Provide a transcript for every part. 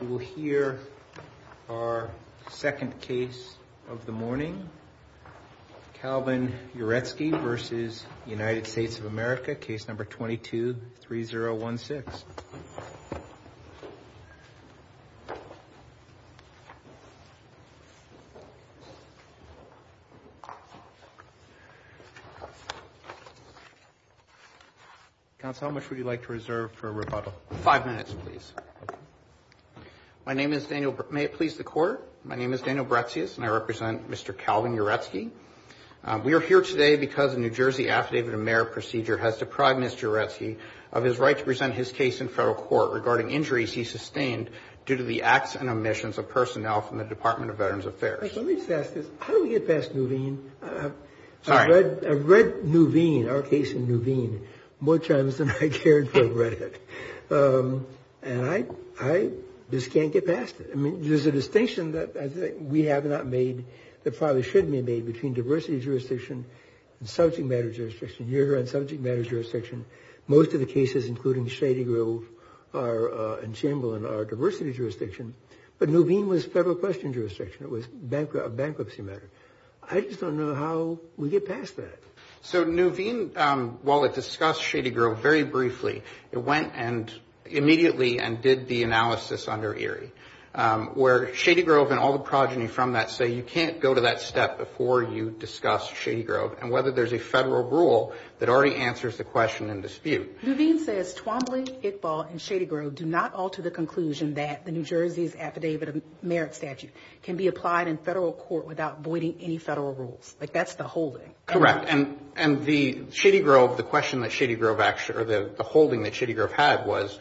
We will hear our second case of the morning, Calvin Uretsky v. United States of America, case number 22-3016. Counsel, how much would you like to reserve for rebuttal? Five minutes, please. My name is Daniel, may it please the Court? My name is Daniel Bretsius and I represent Mr. Calvin Uretsky. We are here today because the New Jersey Affidavit of Merit procedure has deprived Mr. Uretsky of his right to present his case in federal court regarding injuries he sustained due to the acts and omissions of personnel from the Department of Veterans Affairs. Let me just ask this, how do we get past Nuveen? I've read Nuveen, our case in Nuveen, more times than I cared for a redhead. And I just can't get past it. I mean, there's a distinction that we have not made that probably shouldn't be made between diversity jurisdiction and subject matter jurisdiction. You're on subject matter jurisdiction. Most of the cases, including Shady Grove and Chamberlain, are diversity jurisdiction. But Nuveen was federal question jurisdiction. It was a bankruptcy matter. I just don't know how we get past that. So Nuveen, while it discussed Shady Grove very briefly, it went and immediately and did the analysis under Erie. Where Shady Grove and all the progeny from that say you can't go to that step before you discuss Shady Grove. And whether there's a federal rule that already answers the question and dispute. Nuveen says Twombly, Iqbal, and Shady Grove do not alter the conclusion that the New Jersey's Affidavit of Merit Statute can be applied in federal court without voiding any federal rules. Like that's the holding. Correct. And the Shady Grove, the question that Shady Grove, or the holding that Shady Grove had was,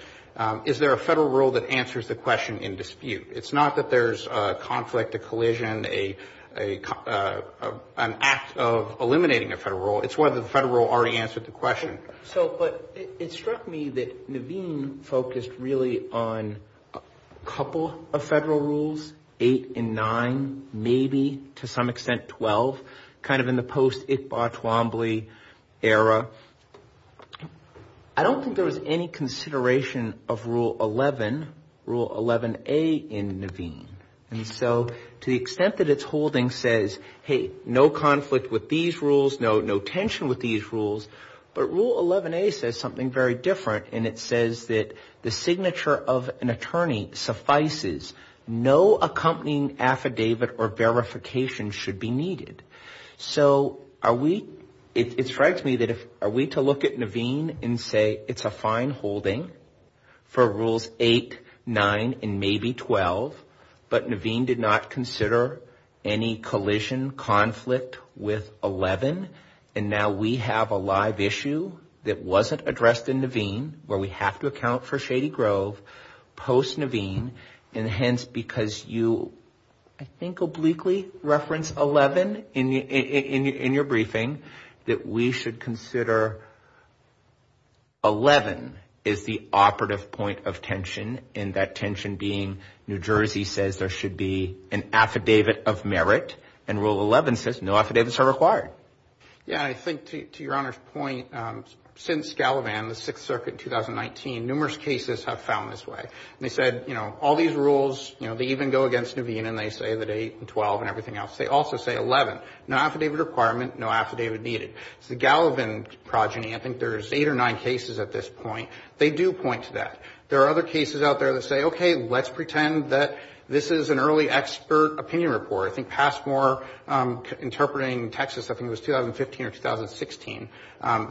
is there a federal rule that answers the question in dispute? It's not that there's a conflict, a collision, an act of eliminating a federal rule. It's whether the federal rule already answered the question. It struck me that Nuveen focused really on a couple of federal rules, eight and nine, maybe to some extent 12, kind of in the post-Iqbal-Twombly era. I don't think there was any consideration of Rule 11, Rule 11A in Nuveen. And so to the extent that it's holding says, hey, no conflict with these rules, no tension with these rules. But Rule 11A says something very different. And it says that the signature of an attorney suffices. No accompanying affidavit or verification should be needed. So are we, it strikes me that if, are we to look at Nuveen and say it's a fine holding for Rules 8, 9, and maybe 12. But Nuveen did not consider any collision, conflict with 11. And now we have a live issue that wasn't addressed in Nuveen where we have to account for Shady Grove post-Nuveen. And hence, because you, I think, obliquely referenced 11 in your briefing, that we should consider 11 as the operative point of tension. And that tension being New Jersey says there should be an affidavit of merit. And Rule 11 says no affidavits are required. Yeah, I think to your Honor's point, since Gallivan, the Sixth Circuit in 2019, numerous cases have found this way. And they said, you know, all these rules, you know, they even go against Nuveen and they say that 8 and 12 and everything else. They also say 11, no affidavit requirement, no affidavit needed. It's the Gallivan progeny. I think there's eight or nine cases at this point. They do point to that. There are other cases out there that say, okay, let's pretend that this is an early expert opinion report. I think Passmore Interpreting, Texas, I think it was 2015 or 2016.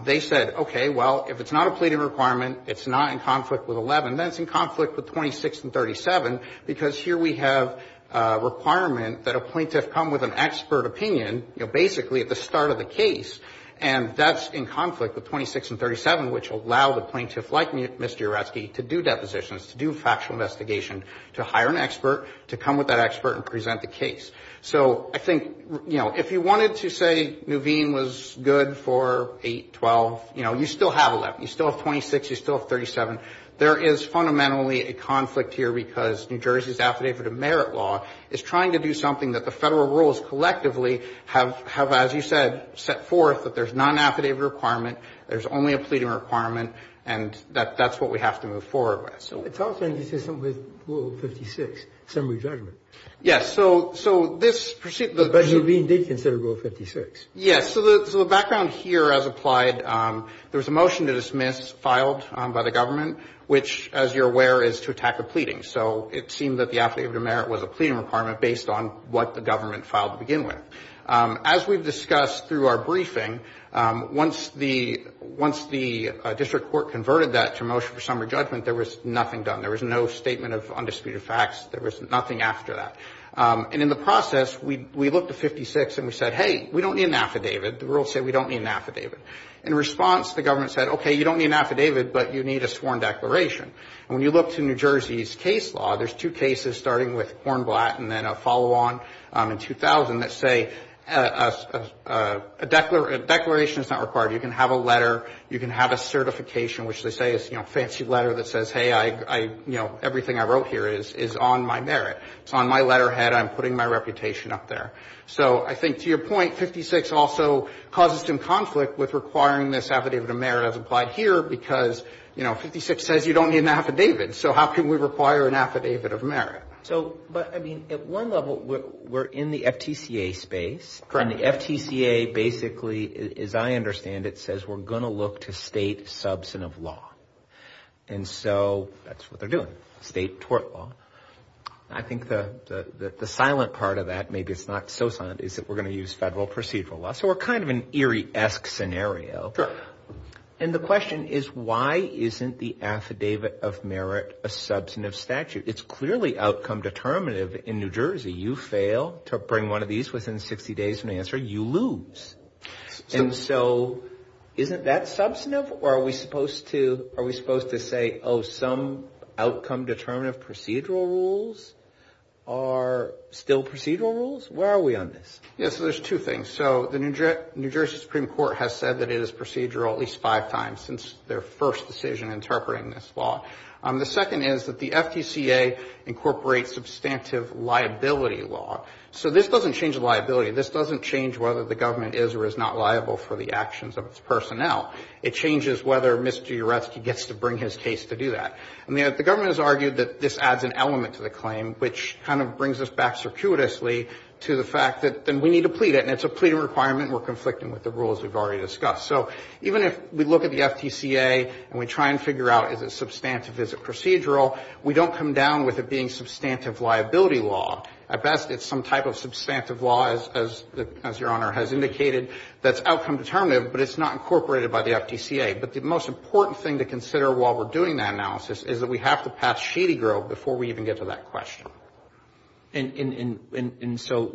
They said, okay, well, if it's not a pleading requirement, it's not in conflict with 11, then it's in conflict with 26 and 37. Because here we have a requirement that a plaintiff come with an expert opinion, you know, basically at the start of the case. And that's in conflict with 26 and 37, which allow the plaintiff, like Mr. Uretsky, to do depositions, to do factual investigation, to hire an expert, to come with that expert and present the case. So I think, you know, if you wanted to say Nuveen was good for 8, 12, you know, you still have 11. You still have 26. You still have 37. There is fundamentally a conflict here because New Jersey's affidavit of merit law is trying to do something that the Federal rules collectively have, as you said, set forth that there's non-affidavit requirement, there's only a pleading requirement, and that's what we have to move forward with. It's also inconsistent with Rule 56, summary judgment. Yes. But Nuveen did consider Rule 56. Yes. So the background here, as applied, there was a motion to dismiss filed by the government, which, as you're aware, is to attack a pleading. So it seemed that the affidavit of merit was a pleading requirement based on what the government filed to begin with. As we've discussed through our briefing, once the district court converted that to a motion for summary judgment, there was nothing done. There was no statement of undisputed facts. There was nothing after that. And in the process, we looked at 56 and we said, hey, we don't need an affidavit. The rules say we don't need an affidavit. In response, the government said, okay, you don't need an affidavit, but you need a sworn declaration. And when you look to New Jersey's case law, there's two cases starting with Hornblatt and then a follow-on in 2000 that say a declaration is not required. You can have a letter, you can have a certification, which they say is, you know, a fancy letter that says, hey, I, you know, everything I wrote here is on my merit. It's on my letterhead. I'm putting my reputation up there. So I think, to your point, 56 also causes some conflict with requiring this affidavit of merit as applied here because, you know, 56 says you don't need an affidavit. So how can we require an affidavit of merit? So, but, I mean, at one level, we're in the FTCA space. Correct. And the FTCA basically, as I understand it, says we're going to look to state substantive law. And so that's what they're doing, state tort law. I think the silent part of that, maybe it's not so silent, is that we're going to use federal procedural law. So we're kind of in an eerie-esque scenario. And the question is, why isn't the affidavit of merit a substantive statute? It's clearly outcome determinative in New Jersey. You fail to bring one of these within 60 days from the answer, you lose. And so isn't that substantive? Or are we supposed to, are we supposed to say, oh, some outcome determinative procedural rules are still procedural rules? Where are we on this? Yeah, so there's two things. So the New Jersey Supreme Court has said that it is procedural at least five times since their first decision interpreting this law. The second is that the FTCA incorporates substantive liability into the statute. So this doesn't change the liability, this doesn't change whether the government is or is not liable for the actions of its personnel. It changes whether Mr. Uresky gets to bring his case to do that. And the government has argued that this adds an element to the claim, which kind of brings us back circuitously to the fact that then we need to plead it. And it's a pleading requirement and we're conflicting with the rules we've already discussed. So even if we look at the FTCA and we try and figure out is it substantive, is it procedural, we don't come down with it being substantive liability law. At best it's some type of substantive law, as Your Honor has indicated, that's outcome determinative, but it's not incorporated by the FTCA. But the most important thing to consider while we're doing that analysis is that we have to pass Shady Grove before we even get to that question. And so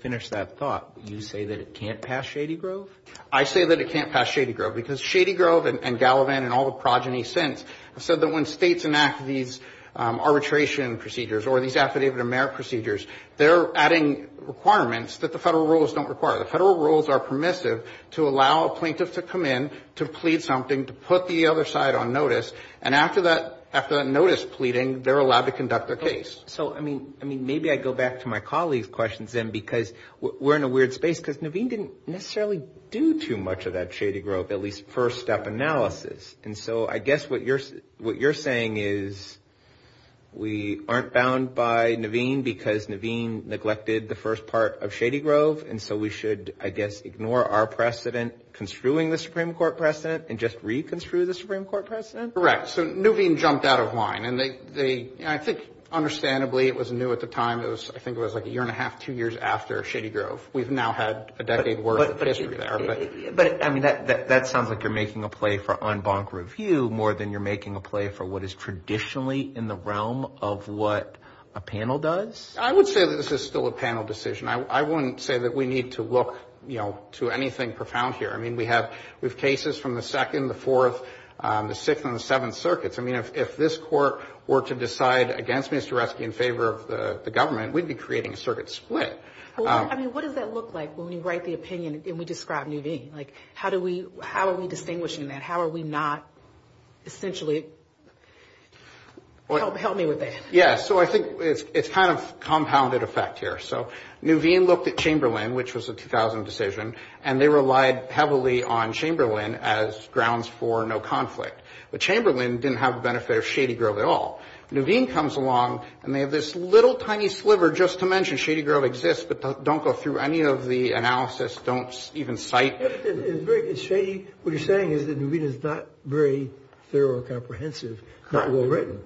finish that thought. You say that it can't pass Shady Grove? I say that it can't pass Shady Grove because Shady Grove and Gallivan and all the progeny since have said that when states enact these procedures, they're adding requirements that the federal rules don't require. The federal rules are permissive to allow a plaintiff to come in, to plead something, to put the other side on notice, and after that notice pleading, they're allowed to conduct their case. So, I mean, maybe I go back to my colleague's questions then, because we're in a weird space, because Naveen didn't necessarily do too much of that Shady Grove, at least first step analysis. And so I guess what you're saying is we aren't bound by Naveen because Naveen is the plaintiff, and we're not bound by Naveen because Naveen is the plaintiff. And so we should, I guess, ignore our precedent construing the Supreme Court precedent and just reconstrue the Supreme Court precedent? Correct. So Naveen jumped out of line, and I think understandably it was new at the time, I think it was like a year and a half, two years after Shady Grove. We've now had a decade worth of history there. But, I mean, that sounds like you're making a play for en banc review more than you're making a play for what is traditionally in the realm of what a panel does? I would say that this is still a panel decision. I wouldn't say that we need to look, you know, to anything profound here. I mean, we have cases from the Second, the Fourth, the Sixth, and the Seventh Circuits. I mean, if this Court were to decide against Mr. Resnick in favor of the government, we'd be creating a circuit split. Well, I mean, what does that look like when we write the opinion and we describe Naveen? Like, how do we, how are we distinguishing that? How are we not essentially, help me with that? Yeah, so I think it's kind of compounded effect here. So, Naveen looked at Chamberlain, which was a 2000 decision, and they relied heavily on Chamberlain as grounds for no conflict. But Chamberlain didn't have the benefit of Shady Grove at all. Naveen comes along and they have this little tiny sliver just to mention Shady Grove exists, but don't go through any of the analysis, don't even cite. It's very shady. What you're saying is that Naveen is not very thorough or comprehensive, not well written.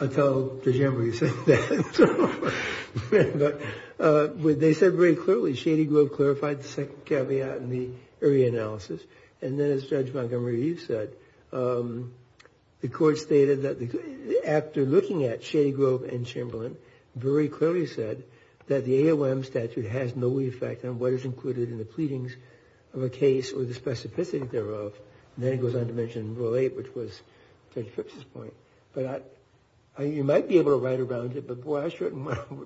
I'll tell DeGembro you said that. But they said very clearly Shady Grove clarified the second caveat in the area analysis. And then as Judge Montgomery said, the Court stated that after looking at Shady Grove and Chamberlain, very clearly said that the AOM statute has no effect on what is included in the pleadings of a case or the specificity thereof. Then it goes on to mention Rule 8, which was Judge Phipps' point. But you might be able to write around it, but boy, I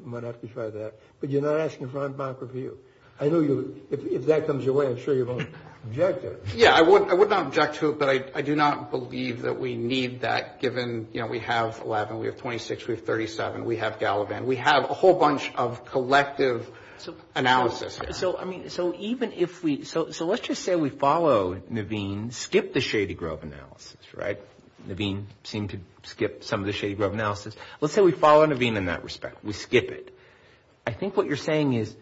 might have to try that. But you're not asking for Montgomery's view. If that comes your way, I'm sure you won't object to it. Yeah, I would not object to it, but I do not believe that we need that, given we have 11, we have 26, we have 37, we have Gallivan. We have a whole bunch of collective analysis here. So let's just say we follow Naveen, skip the Shady Grove analysis, right? Naveen seemed to skip some of the Shady Grove analysis. Let's say we follow Naveen in that respect, we skip it. I think what you're saying is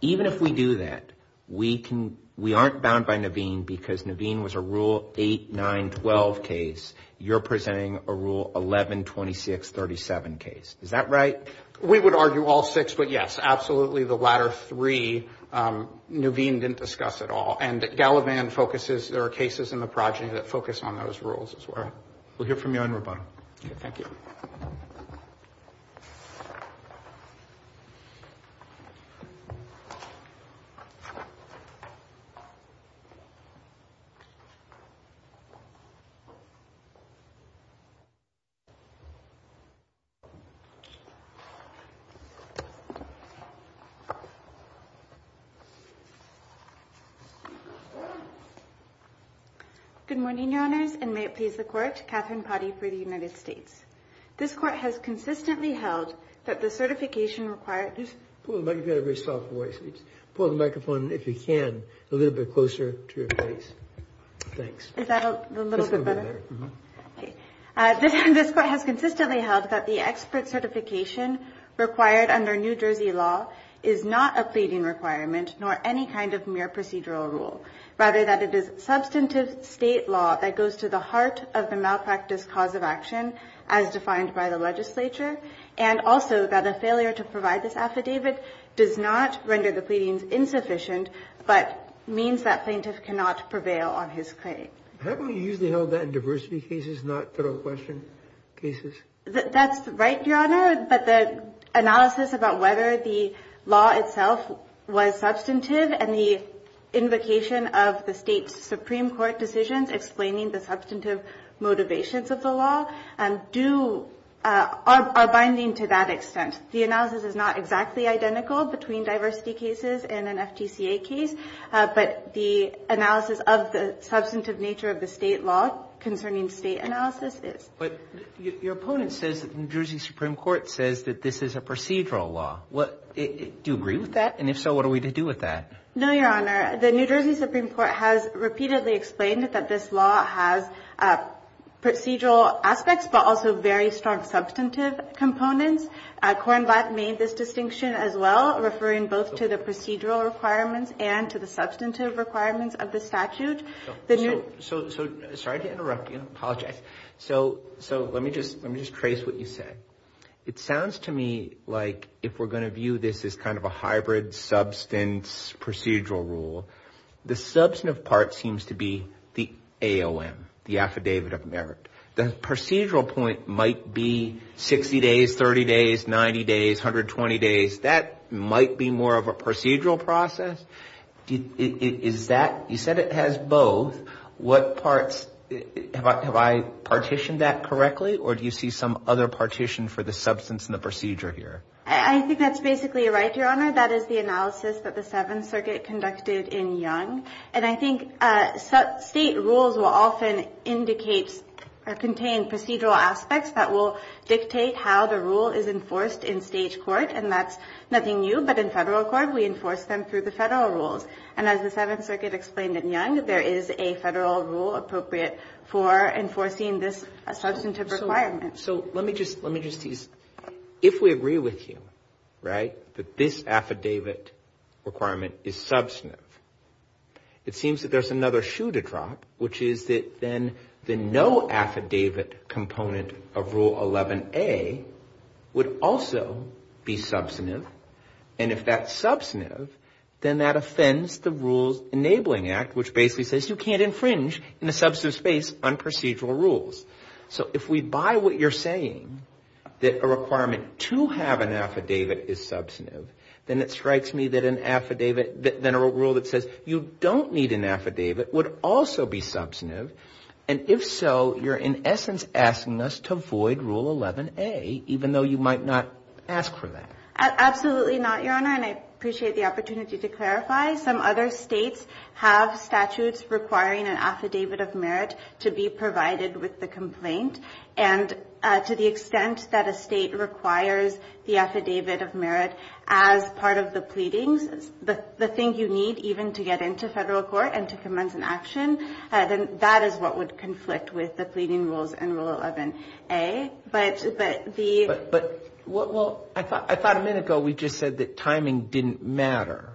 even if we do that, we aren't bound by Naveen because Naveen was a Rule 8, 9, 12 case. You're presenting a Rule 11, 26, 37 case. Is that right? We would argue all six, but yes, absolutely the latter three Naveen didn't discuss at all. And Gallivan focuses, there are cases in the progeny that focus on those rules as well. We'll hear from you on Roboto. Thank you. Thank you. Good morning, Your Honors, and may it please the Court, Katherine Potty for the United States. This Court has consistently held that the certification required... Just pull the microphone, you've got a very soft voice. Pull the microphone, if you can, a little bit closer to your face. Thanks. This Court has consistently held that the expert certification required under New Jersey law is not a pleading requirement nor any kind of mere procedural rule. Rather, that it is substantive state law that goes to the heart of the malpractice cause of action, and that it is not a pleading requirement. As defined by the legislature, and also that a failure to provide this affidavit does not render the pleadings insufficient, but means that plaintiff cannot prevail on his claim. Haven't we usually held that in diversity cases, not federal question cases? That's right, Your Honor, but the analysis about whether the law itself was substantive, and the invocation of the state's Supreme Court decisions explaining the substantive motivations of the law, are binding to that extent. The analysis is not exactly identical between diversity cases and an FTCA case, but the analysis of the substantive nature of the state law concerning state analysis is. But your opponent says that the New Jersey Supreme Court says that this is a procedural law. Do you agree with that? And if so, what are we to do with that? No, Your Honor, the New Jersey Supreme Court has repeatedly explained that this law has procedural aspects to it. It has procedural aspects, but also very strong substantive components. Coren Black made this distinction as well, referring both to the procedural requirements and to the substantive requirements of the statute. So, sorry to interrupt you, I apologize. So, let me just trace what you said. It sounds to me like if we're going to view this as kind of a hybrid substance procedural rule, the substantive part seems to be the AOM, the Affidavit of Merit. The procedural point might be 60 days, 30 days, 90 days, 120 days. That might be more of a procedural process. Is that, you said it has both. What parts, have I partitioned that correctly? Or do you see some other partition for the substance and the procedure here? I think that's basically right, Your Honor. That is the analysis that the Seventh Circuit conducted in Young. And I think state rules will often indicate or contain procedural aspects that will dictate how the rule is enforced in state court. And that's nothing new, but in federal court, we enforce them through the federal rules. And as the Seventh Circuit explained in Young, there is a federal rule appropriate for enforcing this substantive requirement. So, let me just tease, if we agree with you, right, that this affidavit requirement is substantive. It seems that there's another shoe to drop, which is that then the no affidavit component of Rule 11A would also be substantive. And if that's substantive, then that offends the Rules Enabling Act, which basically says you can't infringe in a substantive space on procedural rules. So, if we buy what you're saying, that a requirement to have an affidavit is substantive, then it strikes me that an affidavit, then a rule that says, you don't need an affidavit, would also be substantive. And if so, you're in essence asking us to void Rule 11A, even though you might not ask for that. Absolutely not, Your Honor, and I appreciate the opportunity to clarify. Some other states have statutes requiring an affidavit of merit to be provided with the complaint. And to the extent that a state requires the affidavit of merit as part of the pleadings, the thing you need, even to get an affidavit of merit, to get into federal court and to commence an action, then that is what would conflict with the pleading rules in Rule 11A. But the... Well, I thought a minute ago we just said that timing didn't matter.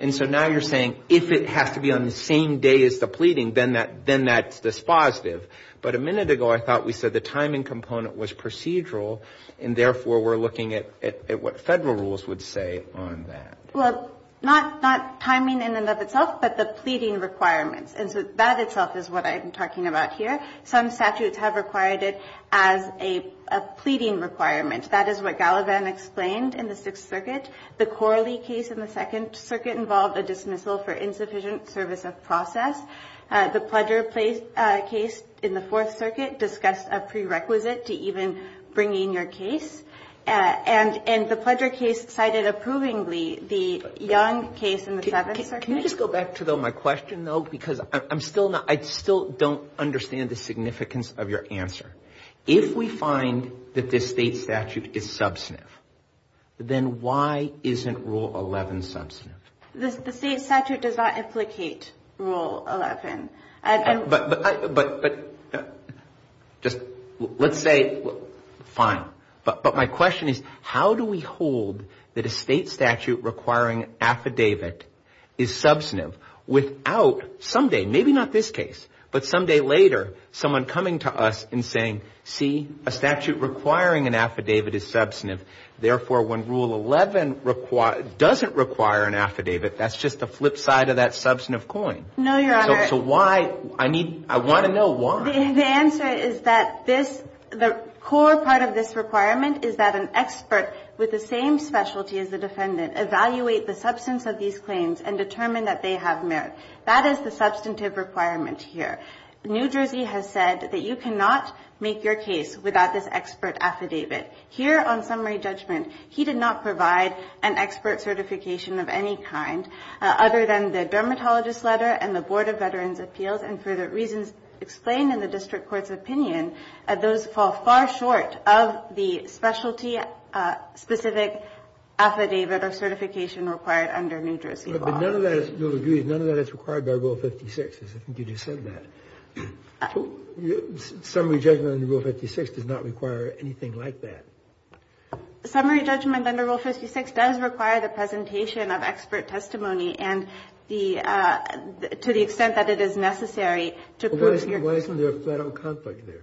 And so now you're saying if it has to be on the same day as the pleading, then that's dispositive. But a minute ago I thought we said the timing component was procedural, and therefore we're looking at what federal rules would say on that. Well, not timing in and of itself, but the pleading requirements. And so that itself is what I'm talking about here. Some statutes have required it as a pleading requirement. That is what Gallivan explained in the Sixth Circuit. The Corley case in the Second Circuit involved a dismissal for insufficient service of process. The Pledger case in the Fourth Circuit discussed a prerequisite to even bringing your case. And the Pledger case cited approvingly the Young case in the Seventh Circuit. Can you just go back to my question, though? Because I'm still not... I still don't understand the significance of your answer. If we find that this state statute is substantive, then why isn't Rule 11 substantive? The state statute does not implicate Rule 11. But... Just... Let's say... Fine. But my question is how do we hold that a state statute requiring affidavit is substantive without someday, maybe not this case, but someday later, someone coming to us and saying, see, a statute requiring an affidavit is substantive. Therefore, when Rule 11 doesn't require an affidavit, that's just the flip side of that substantive coin. No, Your Honor. So why... I need... I want to know why. The answer is that this... The core part of this requirement is that an expert with the same specialty as the defendant evaluate the substance of these claims and determine that they have merit. That is the substantive requirement here. New Jersey has said that you cannot make your case without this expert affidavit. Here, on summary judgment, he did not provide an expert certification of any kind, other than the dermatologist's letter and the Board of Veterans' letter. That is the substantive requirement of the Board of Veterans' appeals, and for the reasons explained in the district court's opinion, those fall far short of the specialty-specific affidavit or certification required under New Jersey law. But none of that is... You'll agree, none of that is required by Rule 56. I think you just said that. Summary judgment under Rule 56 does not require anything like that. Summary judgment under Rule 56 does require the presentation of expert testimony, and the... I think you just said that it is necessary to prove... Why isn't there a federal conflict there?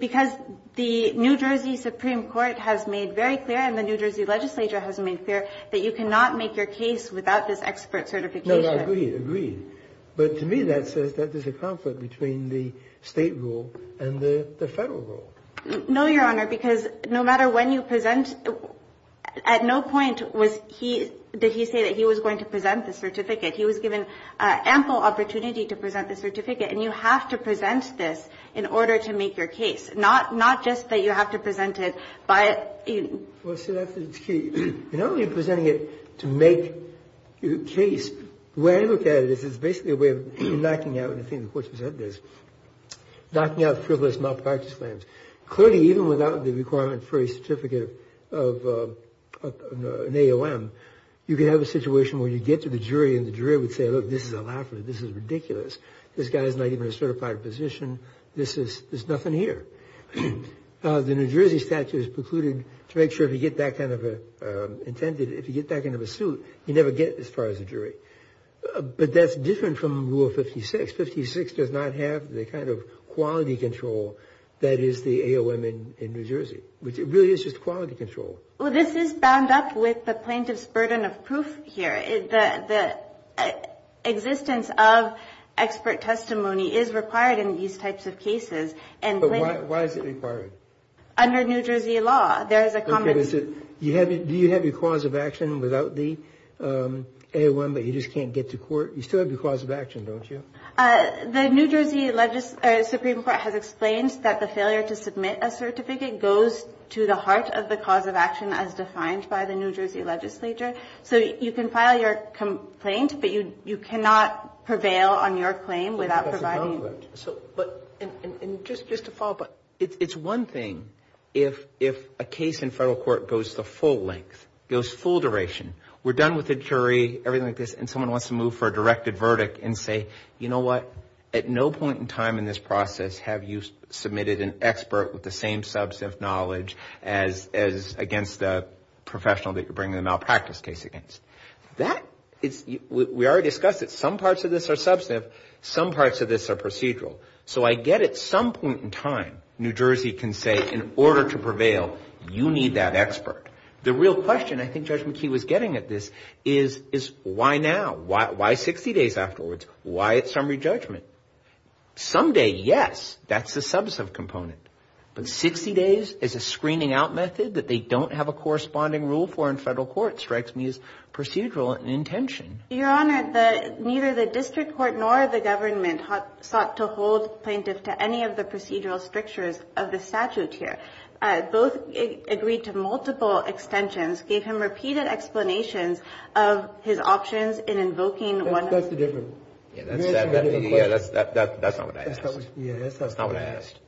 Because the New Jersey Supreme Court has made very clear, and the New Jersey legislature has made clear, that you cannot make your case without this expert certification. No, no, I agree, I agree. But to me, that says that there's a conflict between the state rule and the federal rule. No, Your Honor, because no matter when you present... At no point was he... Did he say that he was going to present the certificate. He was given ample opportunity to present the certificate, and you have to present this in order to make your case. Not just that you have to present it by... Well, so that's the key. You're not only presenting it to make your case. The way I look at it is it's basically a way of knocking out, and I think the Court has said this, knocking out frivolous malpractice claims. Clearly, even without the requirement for a certificate of an AOM, you can have a situation where you get to the jury, and the jury would say, look, this is a laugher, this is ridiculous. This guy's not even a certified physician. There's nothing here. The New Jersey statute is precluded to make sure if you get that kind of a... If you get that kind of a suit, you never get as far as a jury. But that's different from Rule 56. 56 does not have the kind of quality control that is the AOM in New Jersey. It really is just quality control. Well, this is bound up with the plaintiff's burden of proof here. The existence of expert testimony is required in these types of cases. But why is it required? Under New Jersey law, there is a common... Do you have your cause of action without the AOM, but you just can't get to court? You still have your cause of action, don't you? The New Jersey Supreme Court has explained that the failure to submit a certificate goes to the heart of the cause of action as defined by the New Jersey legislature. So you can file your complaint, but you cannot prevail on your claim without providing... And just to follow up. It's one thing if a case in federal court goes the full length, goes full duration. We're done with the jury, everything like this, and someone wants to move for a directed verdict and say, you know what, at no point in time in this process have you submitted an expert with the same substantive knowledge as against a professional that you're bringing a malpractice case against. We already discussed that some parts of this are substantive, some parts of this are procedural. So I get at some point in time, New Jersey can say, in order to prevail, you need that expert. The real question, I think Judge McKee was getting at this, is why now? Why 60 days afterwards? Why a summary judgment? Someday, yes, that's the substantive component. But 60 days as a screening out method that they don't have a corresponding rule for in federal court strikes me as procedural in intention. Your Honor, neither the district court nor the government sought to hold plaintiff to any of the procedural strictures of the statute here. Both agreed to multiple extensions, gave him repeated explanations of his options in invoking one... That's not what I asked.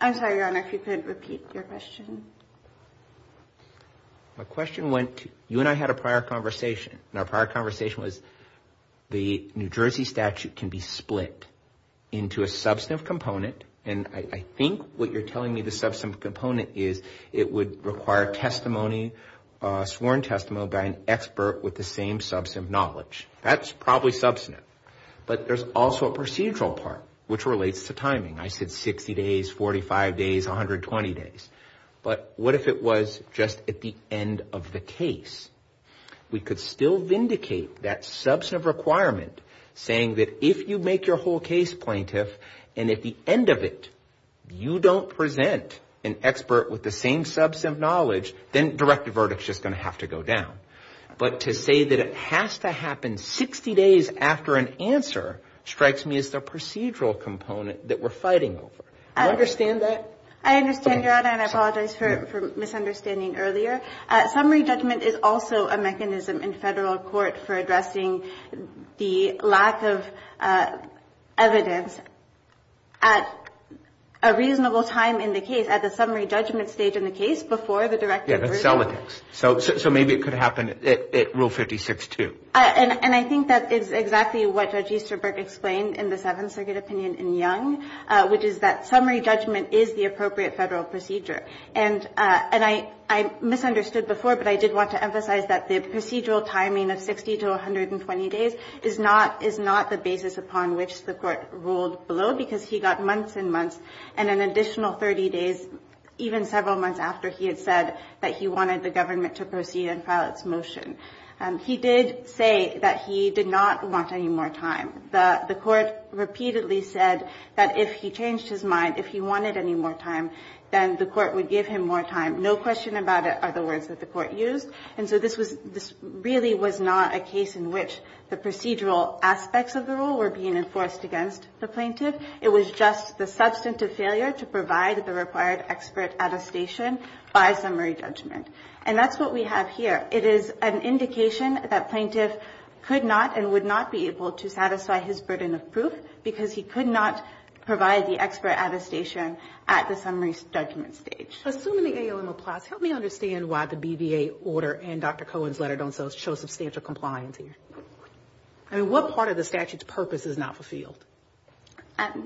I'm sorry, Your Honor, if you could repeat your question. My question went, you and I had a prior conversation, and our prior conversation was the New Jersey statute can be split into a substantive component, and I think what you're telling me the substantive component is it would require testimony, sworn testimony by an expert with the same substantive knowledge. That's probably substantive, but there's also a procedural part which relates to timing. I said 60 days, 45 days, 120 days. But what if it was just at the end of the case? We could still vindicate that substantive requirement saying that if you make your whole case plaintiff, and at the end of it, you don't present an expert with the same substantive knowledge, then direct verdict's just going to have to go down. But to say that it has to happen 60 days after an answer strikes me as the procedural component that we're fighting over. Do you understand that? I understand, Your Honor, and I apologize for misunderstanding earlier. Summary judgment is also a mechanism in federal court for addressing the lack of evidence at a reasonable time in the case, at the summary judgment stage in the case, before the direct verdict. So maybe it could happen at Rule 56-2. And I think that is exactly what Judge Easterberg explained in the Seventh Circuit opinion in Young, which is that summary judgment is the appropriate federal procedure. And I misunderstood before, but I did want to emphasize that the procedural timing of 60 to 120 days is not the basis upon which the Court ruled below because he got months and months, and an additional 30 days even several months after he had said that he wanted the government to proceed and file its motion. He did say that he did not want any more time. The Court repeatedly said that if he changed his mind, if he wanted any more time, then the Court would give him more time. No question about it are the words that the Court used. And so this really was not a case in which the procedural aspects of the rule were being enforced against the plaintiff. It was just the substantive failure to provide the required expert attestation by summary judgment. And that's what we have here. It is an indication that plaintiff could not and would not be able to satisfy his burden of proof because he could not provide the expert attestation at the summary judgment stage. Assuming the AOM applies, help me understand why the BVA order and Dr. Cohen's letter don't show substantial compliance here. What part of the statute's purpose is not fulfilled?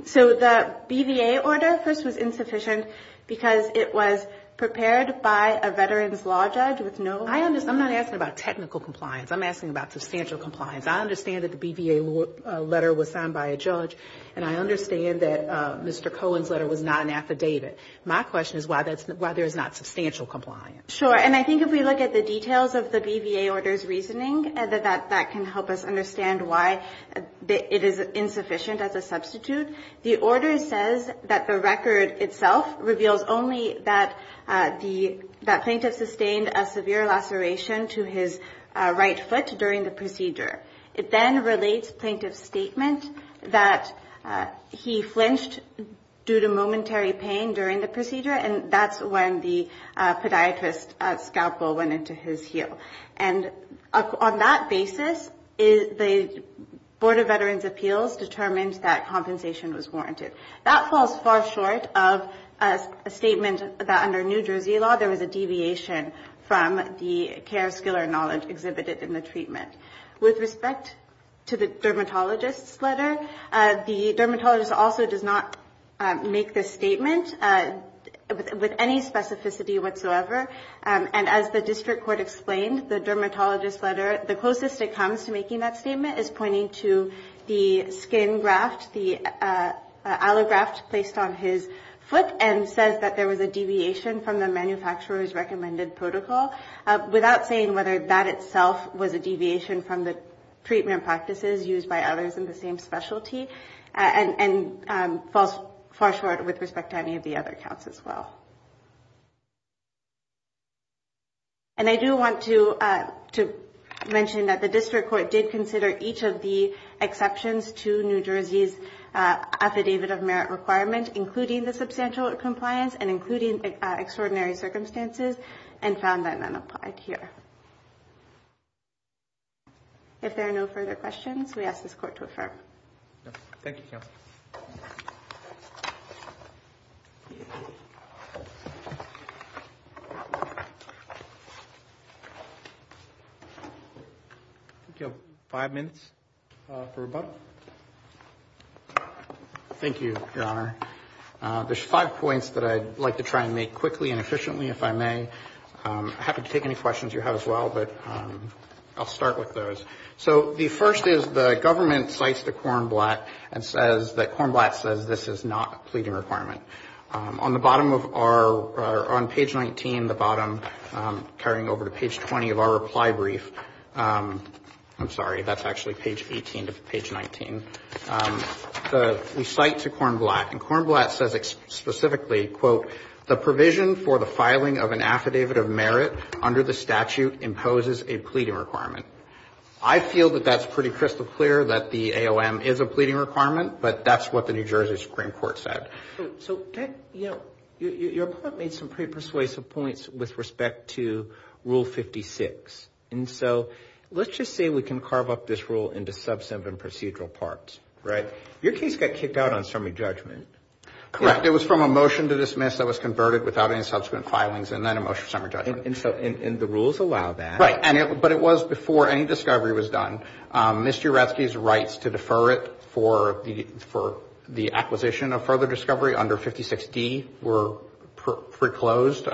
So the BVA order first was insufficient because it was prepared by a veteran's law judge with no... I understand. I'm not asking about technical compliance. I'm asking about substantial compliance. I understand that the BVA letter was signed by a judge, and I understand that Mr. Cohen's letter was not an affidavit. My question is why there is not substantial compliance. Sure. And I think if we look at the details of the BVA order's reasoning, that can help us understand why it is insufficient as a substitute. The order says that the record itself reveals only that plaintiff sustained a severe laceration to his right foot during the procedure. It then relates plaintiff's statement that he flinched due to momentary pain during the procedure, and that's when the podiatrist's scalpel went into his heel. And on that basis, the Board of Veterans' Appeals determined that compensation was warranted. That falls far short of a statement that under New Jersey law, there was a deviation from the care, skill, or knowledge exhibited in the treatment. With respect to the dermatologist's letter, the dermatologist also does not make this statement with any specificity whatsoever. And as the district court explained, the dermatologist's letter, the closest it comes to making that statement is pointing to the skin graft, the allograft placed on his foot, and says that there was a deviation from the manufacturer's recommended protocol, without saying whether that itself was a deviation from the treatment practices used by others in the same specialty. And falls far short with respect to any of the other counts as well. And I do want to mention that the district court did consider each of the exceptions to New Jersey's Affidavit of Merit requirement, including the substantial compliance and including extraordinary circumstances, and found that none applied here. If there are no further questions, we ask this court to affirm. Thank you, counsel. Thank you. We have five minutes for rebuttal. Thank you, Your Honor. There's five points that I'd like to try and make quickly and efficiently, if I may. I'm happy to take any questions you have as well, but I'll start with those. So the first is the government cites the Cornblatt and says that Cornblatt says this is not a pleading requirement. On the bottom of our, on page 19, the bottom, carrying over to page 20 of our reply brief, I'm sorry, that's actually page 18 to page 19. We cite to Cornblatt, and Cornblatt says specifically, quote, the provision for the filing of an Affidavit of Merit under the statute imposes a pleading requirement. I feel that that's pretty crystal clear, that the AOM is a pleading requirement, but that's what the New Jersey Supreme Court said. So, you know, your point made some pretty persuasive points with respect to Rule 56. And so let's just say we can carve up this rule into subsequent procedural parts, right? Your case got kicked out on summary judgment. Correct. It was from a motion to dismiss that was converted without any subsequent filings and then a motion for summary judgment. And the rules allow that. Right. But it was before any discovery was done. Mr. Yeratsky's rights to defer it for the acquisition of further discovery under 56D were foreclosed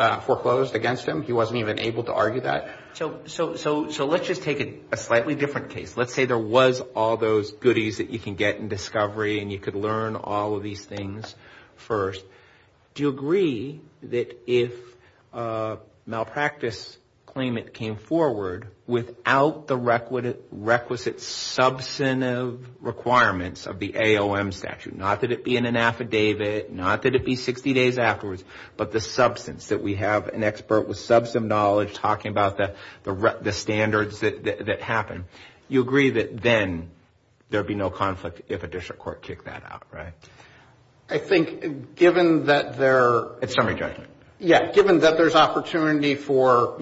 against him. He wasn't even able to argue that. So let's just take a slightly different case. Let's say there was all those goodies that you can get in discovery and you could learn all of these things first. Do you agree that if a malpractice claimant came forward without the requisite substantive requirements of the AOM statute, not that it be in an affidavit, not that it be 60 days afterwards, but the substance that we have an expert with substantive knowledge talking about the standards that happen, you agree that then there would be no conflict if a district court kicked that out, right? I think given that there's opportunity for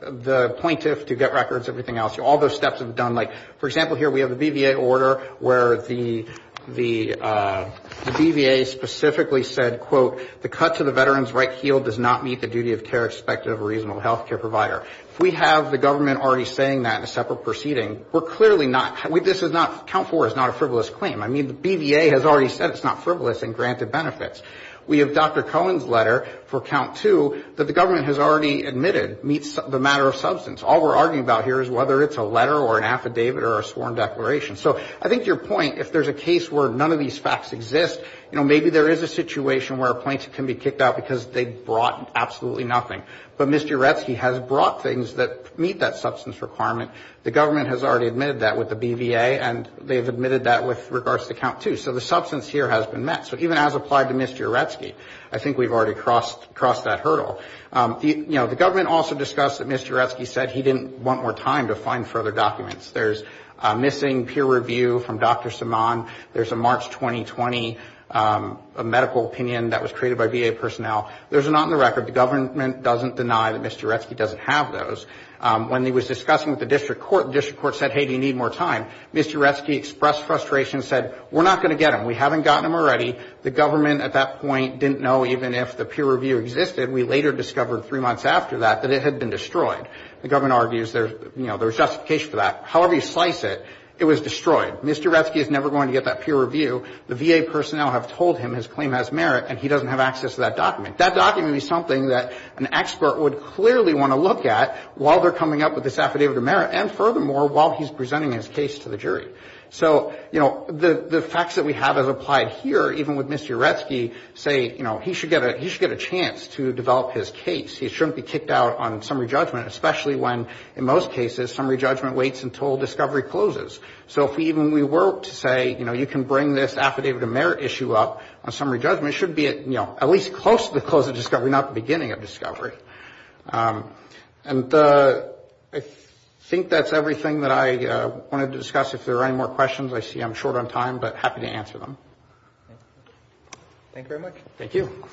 the plaintiff to get records, everything else, all those steps have been done. For example, here we have the BVA order where the BVA specifically said, quote, the cut to the veteran's right heel does not meet the duty of care expected of a reasonable health care provider. If we have the government already saying that in a separate proceeding, we're clearly not, this is not, count four is not a frivolous claim. I mean, the BVA has already said it's not frivolous and granted benefits. We have Dr. Cohen's letter for count two that the government has already admitted that meets the matter of substance. All we're arguing about here is whether it's a letter or an affidavit or a sworn declaration. So I think your point, if there's a case where none of these facts exist, maybe there is a situation where a plaintiff can be kicked out because they brought absolutely nothing. But Mr. Aretsky has brought things that meet that substance requirement. The government has already admitted that with the BVA, and they've admitted that with regards to count two. So the substance here has been met. So even as applied to Mr. Aretsky, I think we've already crossed that hurdle. You know, the government also discussed that Mr. Aretsky said he didn't want more time to find further documents. There's a missing peer review from Dr. Simon. There's a March 2020 medical opinion that was created by BVA personnel. Those are not in the record. The government doesn't deny that Mr. Aretsky doesn't have those. When he was discussing with the district court, the district court said, hey, do you need more time, Mr. Aretsky expressed frustration and said, we're not going to get them. We haven't gotten them already. The government at that point didn't know even if the peer review existed. We later discovered three months after that that it had been destroyed. The government argues there's justification for that. However you slice it, it was destroyed. Mr. Aretsky is never going to get that peer review. The VA personnel have told him his claim has merit, and he doesn't have access to that document. That document is something that an expert would clearly want to look at while they're coming up with this affidavit of merit, and furthermore while he's presenting his case to the jury. So, you know, the facts that we have as applied here, even with Mr. Aretsky, say, you know, he should get a chance to develop his case. He shouldn't be kicked out on summary judgment, especially when in most cases summary judgment waits until discovery closes. So if even we were to say, you know, when this affidavit of merit issue up on summary judgment, it should be, you know, at least close to the close of discovery, not the beginning of discovery. And I think that's everything that I wanted to discuss. If there are any more questions, I see I'm short on time, but happy to answer them. Thank you very much. Thank you.